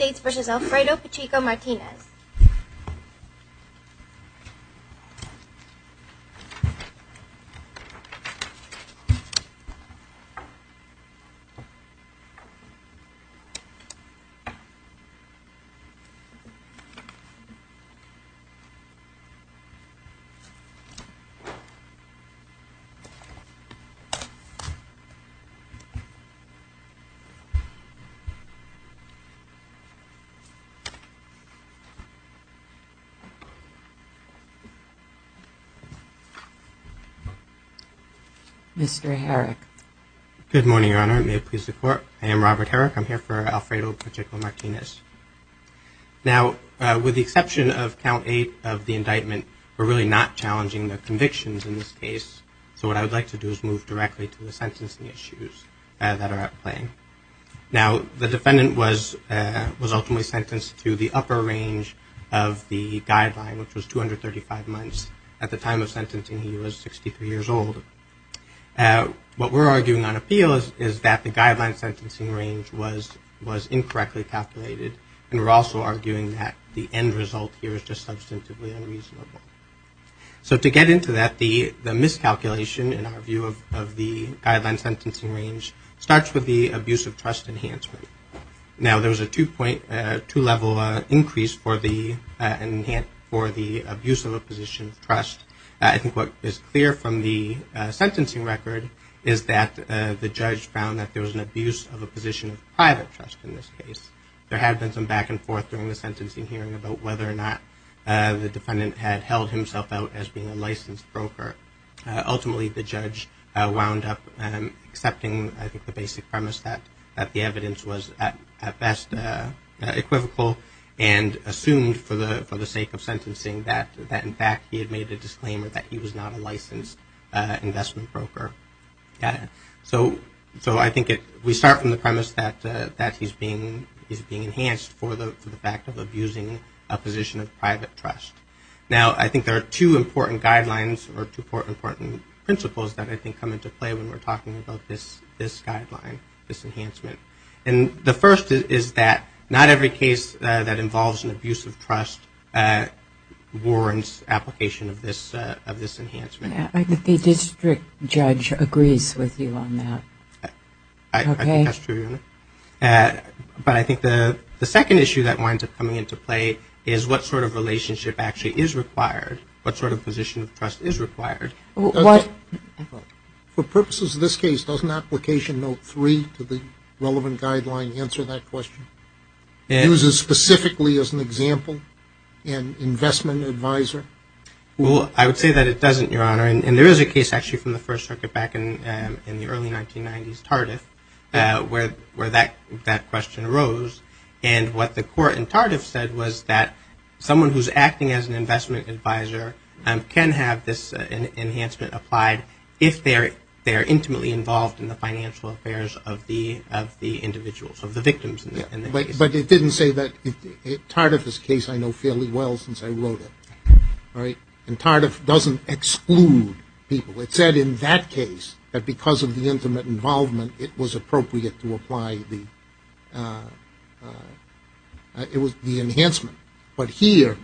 United States v. Alfredo Pacheco-Martinez Alfredo Pacheco-Martinez United States Mr. Herrick. Good morning, Your Honor. May it please the Court, I am Robert Herrick. I'm here for Alfredo Pacheco-Martinez. Now, with the exception of Count 8 of the indictment, we're really not challenging the convictions in this case, so what I would like to do is move directly to the sentencing issues that are at play. Now, the defendant was ultimately sentenced to the upper range of the guideline, which was 235 months. At the time of sentencing, he was 63 years old. What we're arguing on appeal is that the guideline sentencing range was incorrectly calculated, and we're also arguing that the end result here is just substantively unreasonable. So to get into that, the miscalculation, in our view, of the guideline sentencing range starts with the abuse of trust enhancement. Now, there was a two-level increase for the abuse of a position of trust. I think what is clear from the sentencing record is that the judge found that there was an abuse of a position of private trust in this case. There had been some back and forth during the sentencing hearing about whether or not the defendant had held himself out as being a licensed broker. Ultimately, the judge wound up accepting the basic premise that the evidence was at best equivocal and assumed for the sake of sentencing that, in fact, he had made a disclaimer that he was not a licensed investment broker. So I think we start from the premise that he's being enhanced for the fact of abusing a position of private trust. Now, I think there are two important guidelines or two important principles that I think come into play when we're talking about this guideline, this enhancement. And the first is that not every case that involves an abuse of trust warrants application of this enhancement. I think the district judge agrees with you on that. I think that's true, Your Honor. But I think the second issue that winds up coming into play is what sort of relationship actually is required, what sort of position of trust is required. For purposes of this case, doesn't application note three to the relevant guideline answer that question? Is it specifically as an example, an investment advisor? Well, I would say that it doesn't, Your Honor. And there is a case actually from the First Circuit back in the early 1990s, TARDF, where that question arose. And what the court in TARDF said was that someone who's acting as an investment advisor can have this enhancement applied if they're intimately involved in the financial affairs of the individuals, of the victims in the case. But it didn't say that. TARDF is a case I know fairly well since I wrote it. And TARDF doesn't exclude people. It said in that case that because of the intimate involvement, it was appropriate to apply the enhancement. But here,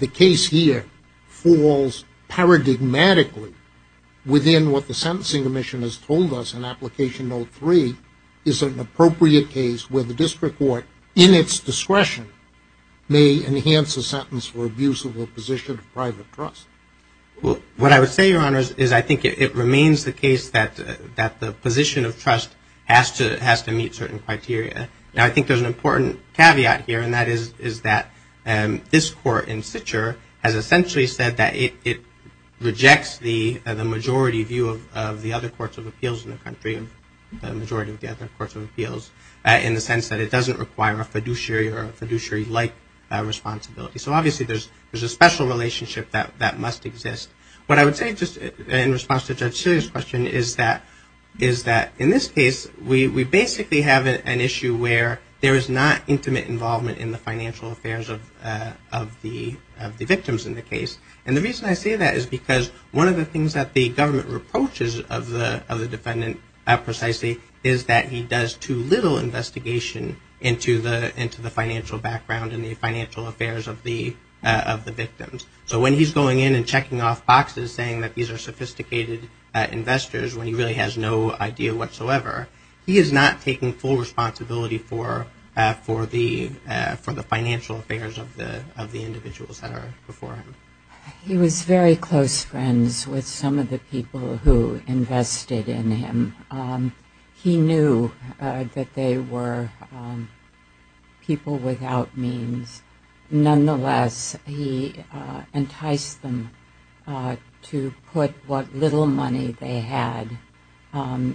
the case here falls paradigmatically within what the Sentencing Commission has told us in application note three is an appropriate case where the district court, in its discretion, may enhance a sentence for abuse of a position of private trust. Well, what I would say, Your Honor, is I think it remains the case that the position of trust has to meet certain criteria. Now, I think there's an important caveat here, and that is that this court in Sitcher has essentially said that it rejects the majority view of the other courts of appeals in the country, the majority of the other courts of appeals, in the sense that it doesn't require a fiduciary or a fiduciary-like responsibility. So obviously there's a special relationship that must exist. What I would say just in response to Judge Sealy's question is that in this case, we basically have an issue where there is not intimate involvement in the financial affairs of the victims in the case. And the reason I say that is because one of the things that the government reproaches of the defendant, precisely, is that he does too little investigation into the financial background and the financial affairs of the victims. So when he's going in and checking off boxes saying that these are sophisticated investors, when he really has no idea whatsoever, he is not taking full responsibility for the financial affairs of the individuals that are before him. He was very close friends with some of the people who invested in him. He knew that they were people without means. Nonetheless, he enticed them to put what little money they had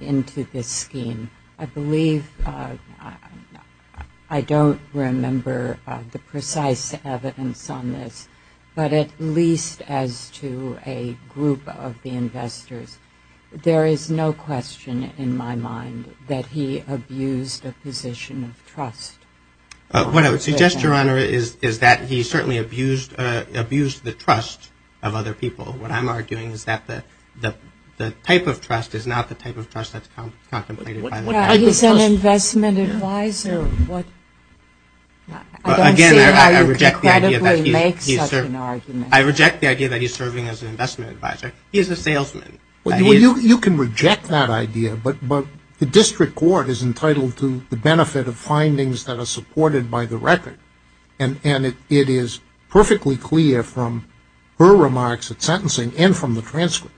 into this scheme. I believe, I don't remember the precise evidence on this, but at least as to a group of the investors, there is no question in my mind that he abused a position of trust. What I would suggest, Your Honor, is that he certainly abused the trust of other people. What I'm arguing is that the type of trust is not the type of trust that's contemplated. He's an investment advisor. Again, I reject the idea that he's serving as an investment advisor. He's a salesman. You can reject that idea, but the district court is entitled to the benefit of findings that are supported by the record. And it is perfectly clear from her remarks at sentencing and from the transcript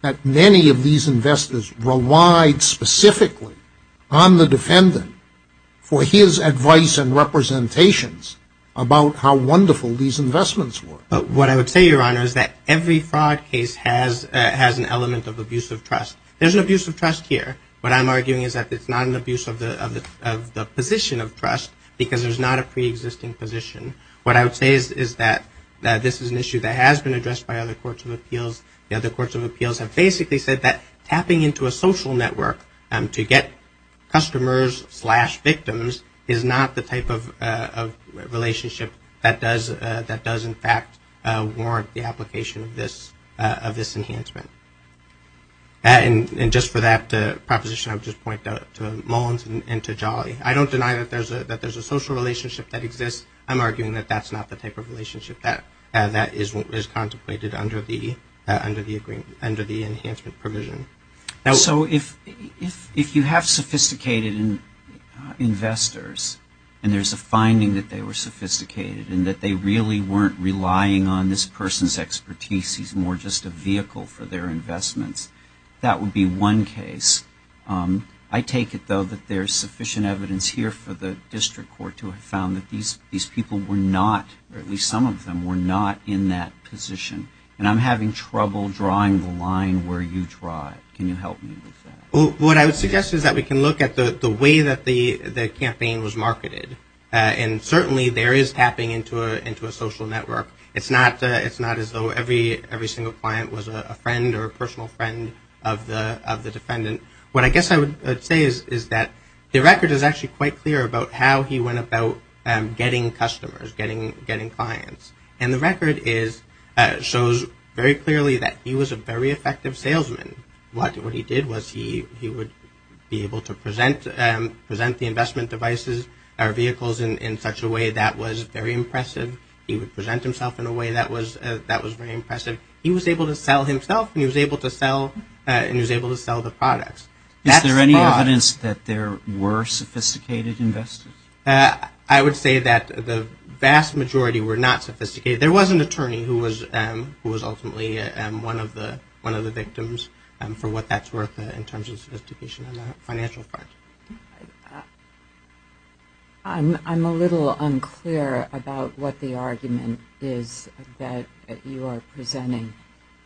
that many of these investors relied specifically on the defendant for his advice and representations about how wonderful these investments were. But what I would say, Your Honor, is that every fraud case has an element of abusive trust. There's an abusive trust here. What I'm arguing is that it's not an abuse of the position of trust because there's not a preexisting position. What I would say is that this is an issue that has been addressed by other courts of appeals. The other courts of appeals have basically said that tapping into a social network to get customers slash victims is not the type of relationship that does in fact warrant the application of this enhancement. And just for that proposition, I would just point to Mullins and to Jolly. I don't deny that there's a social relationship that exists. But I would argue that it's not a social relationship. It's a relationship that exists under the enhancement provision. So if you have sophisticated investors and there's a finding that they were sophisticated and that they really weren't relying on this person's expertise, he's more just a vehicle for their investments, that would be one case. I take it, though, that there's sufficient evidence here for the district court to have found that these people were not, or at least some of them, were not in that position. And I'm not sure that there's a reason for people drawing the line where you draw it. Can you help me with that? What I would suggest is that we can look at the way that the campaign was marketed. And certainly there is tapping into a social network. It's not as though every single client was a friend or a personal friend of the defendant. What I guess I would say is that the record is actually quite clear about how he went about getting customers, getting clients. And the record shows very clearly that he was a very effective salesman. What he did was he would be able to present the investment devices or vehicles in such a way that was very impressive. He would present himself in a way that was very impressive. He was able to sell himself and he was able to sell the products. Is there any evidence that there were sophisticated investors? I would say that the vast majority were not sophisticated. There was an attorney who was ultimately one of the victims for what that's worth in terms of sophistication on the financial front. I'm a little unclear about what the argument is that you are presenting.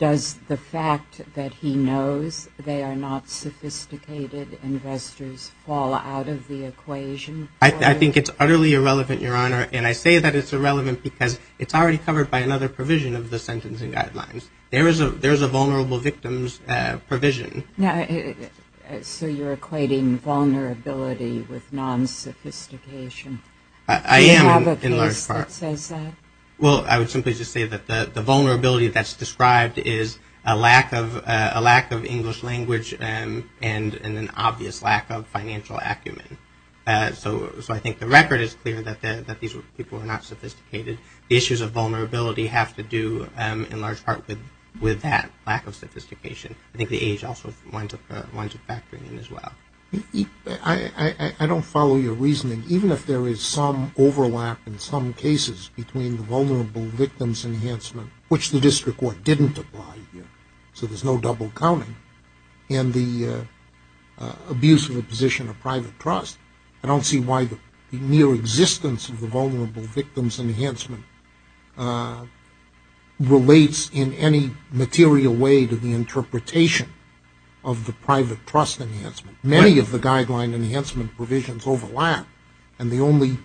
Does the fact that he knows they are not sophisticated investors fall out of the equation? I think it's utterly irrelevant, Your Honor. And I say that it's irrelevant because it's already covered by another provision of the sentencing guidelines. There is a vulnerable victims provision. So you're equating vulnerability with non-sophistication? I am in large part. Well, I would simply just say that the vulnerability that's described is a lack of English language and an obvious lack of financial acumen. So I think the record is clear that these people were not sophisticated. The issues of vulnerability have to do in large part with that lack of sophistication. I think the age also winds up factoring in as well. I don't follow your reasoning. Even if there is some overlap in some cases between the vulnerable victims enhancement, which the district court didn't apply here, so there's no double counting, and the abuse of a position of private trust, I don't see why the mere existence of the vulnerable victims enhancement relates in any material way to the interpretation of the private trust enhancement. Many of the guideline enhancement provisions overlap, and the only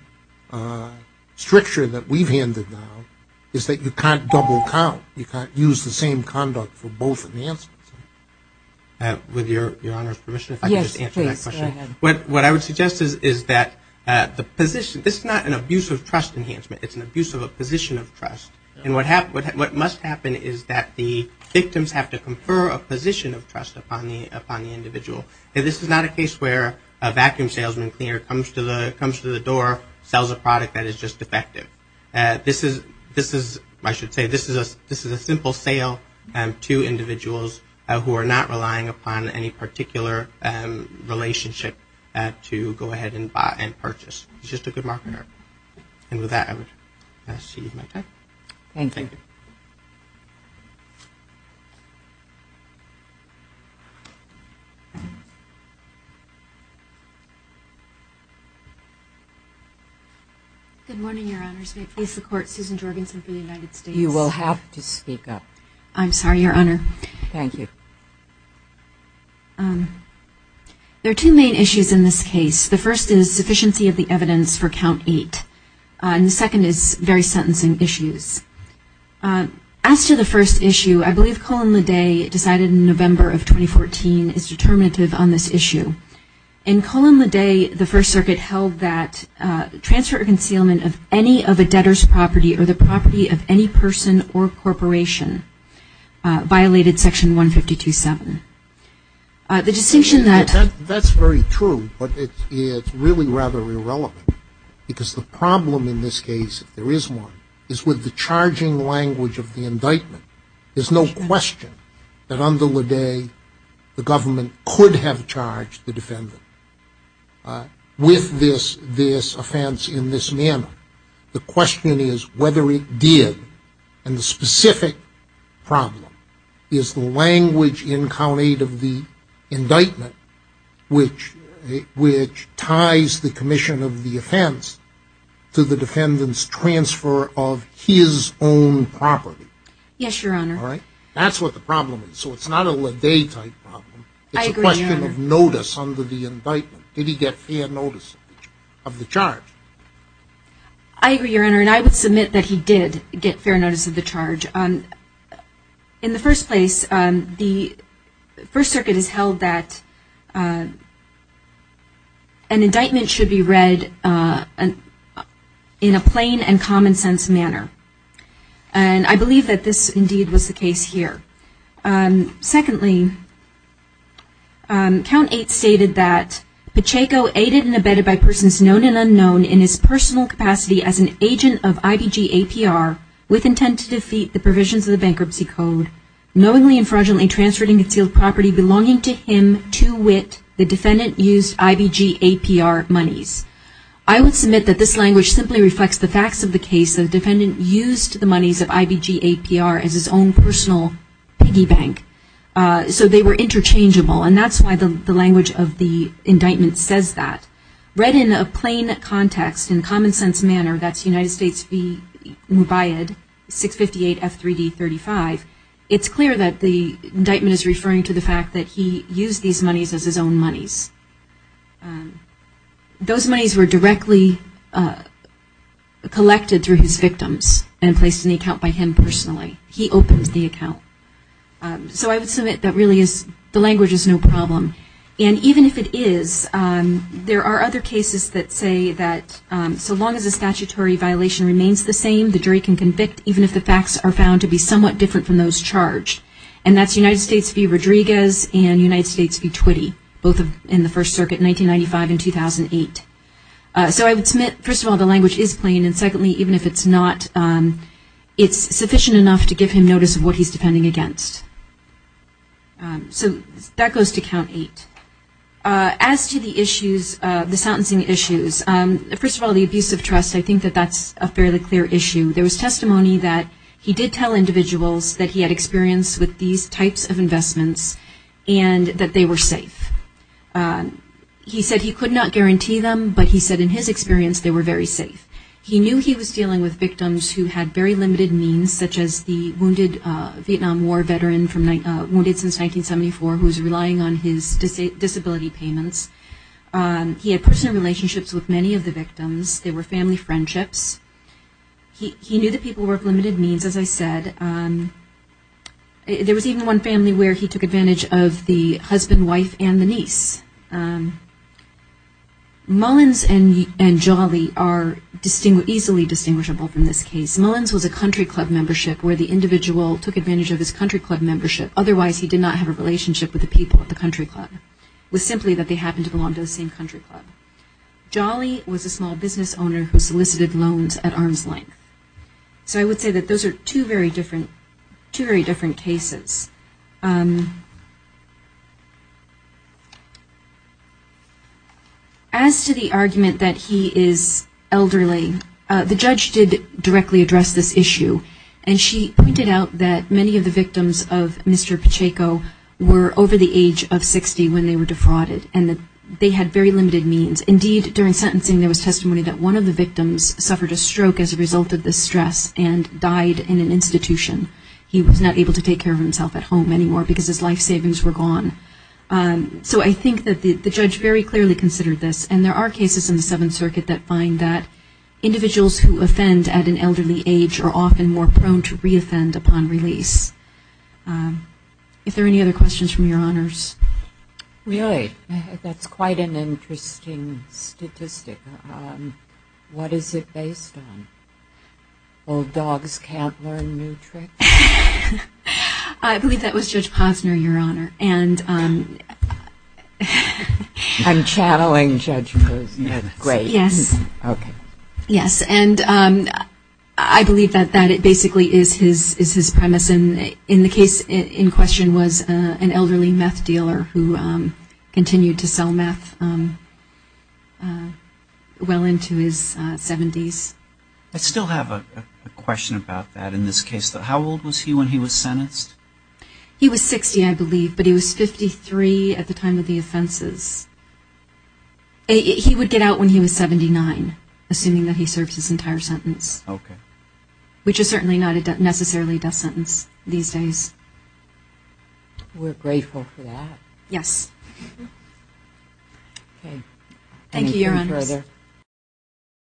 stricture that we've handed down is that you can't double count. You can't use the same conduct for both enhancements. With your Honor's permission, if I could just answer that question. Yes, please, go ahead. What I would suggest is that the position, this is not an abuse of trust enhancement, it's an abuse of a position of trust, and what must happen is that the victims have to confer a position of trust upon the individual. This is not a case where a vacuum salesman comes to the door, sells a product that is just defective. This is, I should say, this is a simple sale to individuals who are not relying upon any particular relationship to go ahead and purchase. It's just a good marketer. Good morning, Your Honors. May it please the Court, Susan Jorgenson for the United States. You will have to speak up. I'm sorry, Your Honor. Thank you. There are two main issues in this case. The first is sufficiency of the evidence for count eight, and the second is very sentencing issues. And I would like to ask you to give me a little bit of context on this issue. In Colon Le Day, the First Circuit held that transfer or concealment of any of a debtor's property or the property of any person or corporation violated Section 152.7. That's very true, but it's really rather irrelevant because the problem in this case, if there is one, is with the charging language of the indictment. The question is whether it did, and the specific problem is the language in count eight of the indictment which ties the commission of the offense to the defendant's transfer of his own property. Yes, Your Honor. That's what the problem is. So it's not a Le Day type problem. It's a question of notice under the indictment. Did he get fair notice of the charge? I agree, Your Honor, and I would submit that he did get fair notice of the charge. In the first place, the First Circuit has held that an indictment should be read in a plain and common sense manner. And I believe that this indeed was the case here. Secondly, count eight stated that Pacheco aided and abetted by persons known and unknown in his personal capacity as an agent of IBG APR with intent to defeat the provisions of the bankruptcy code, knowingly and fraudulently transferring concealed property belonging to him to wit the defendant used IBG APR monies. I would submit that this language simply reflects the facts of the case that the defendant used the monies of IBG APR as his own personal piggy bank. So they were interchangeable, and that's why the language of the indictment says that. Read in a plain context, in common sense manner, that's United States v. Mubayad, 658 F3D35, it's clear that the indictment is referring to the fact that he used these monies as his own monies. Those monies were directly collected through his victims and placed in the account by him personally. He opens the account. So I would submit that really the language is no problem. And even if it is, there are other cases that say that so long as the statutory violation remains the same, the jury can convict even if the facts are found to be somewhat different from those charged. And that's United States v. Rodriguez and United States v. Twitty, both in the First Circuit, 1995 and 2008. So I would submit, first of all, the language is plain, and secondly, even if it's not, it's sufficient enough to give him notice of what he's defending against. So that goes to count eight. As to the issues, the sentencing issues, first of all, the abuse of trust, I think that that's a fairly clear issue. There was testimony that he did tell individuals that he had experience with these types of investments and that they were safe. He said he could not guarantee them, but he said in his experience they were very safe. He knew he was dealing with victims who had very limited means, such as the wounded Vietnam War veteran, wounded since 1974, who was relying on his disability payments. He had personal relationships with many of the victims. They were family friendships. He knew the people were of limited means, as I said. There was even one family where he took advantage of the husband, wife, and the niece. Mullins and Jolly are easily distinguishable from this case. Mullins was a country club membership where the individual took advantage of his country club membership. Otherwise, he did not have a relationship with the people at the country club. It was simply that they happened to belong to the same country club. Jolly was a small business owner who solicited loans at arm's length. So I would say that those are two very different cases. As to the argument that he is elderly, the judge did directly address this issue. And she pointed out that many of the victims of Mr. Pacheco were over the age of 60 when they were defrauded, and that they had very limited means. Indeed, during sentencing there was testimony that one of the victims suffered a stroke as a result of this stress and died in an institution. He was not able to take care of himself at home anymore because his life savings were gone. So I think that the judge very clearly considered this. And there are cases in the Seventh Circuit that find that individuals who offend at an elderly age are often more prone to reoffend upon release. If there are any other questions from your honors? Really? That's quite an interesting statistic. What is it based on? Old dogs can't learn new tricks? I believe that was Judge Posner, your honor. I'm channeling Judge Posner. Yes. And I believe that it basically is his premise. And the case in question was an elderly meth dealer who continued to sell meth well into his 70s. I still have a question about that. In this case, how old was he when he was sentenced? He was 60, I believe, but he was 53 at the time of the offenses. He would get out when he was 79, assuming that he served his entire sentence. Which is certainly not a necessarily death sentence these days. We're grateful for that.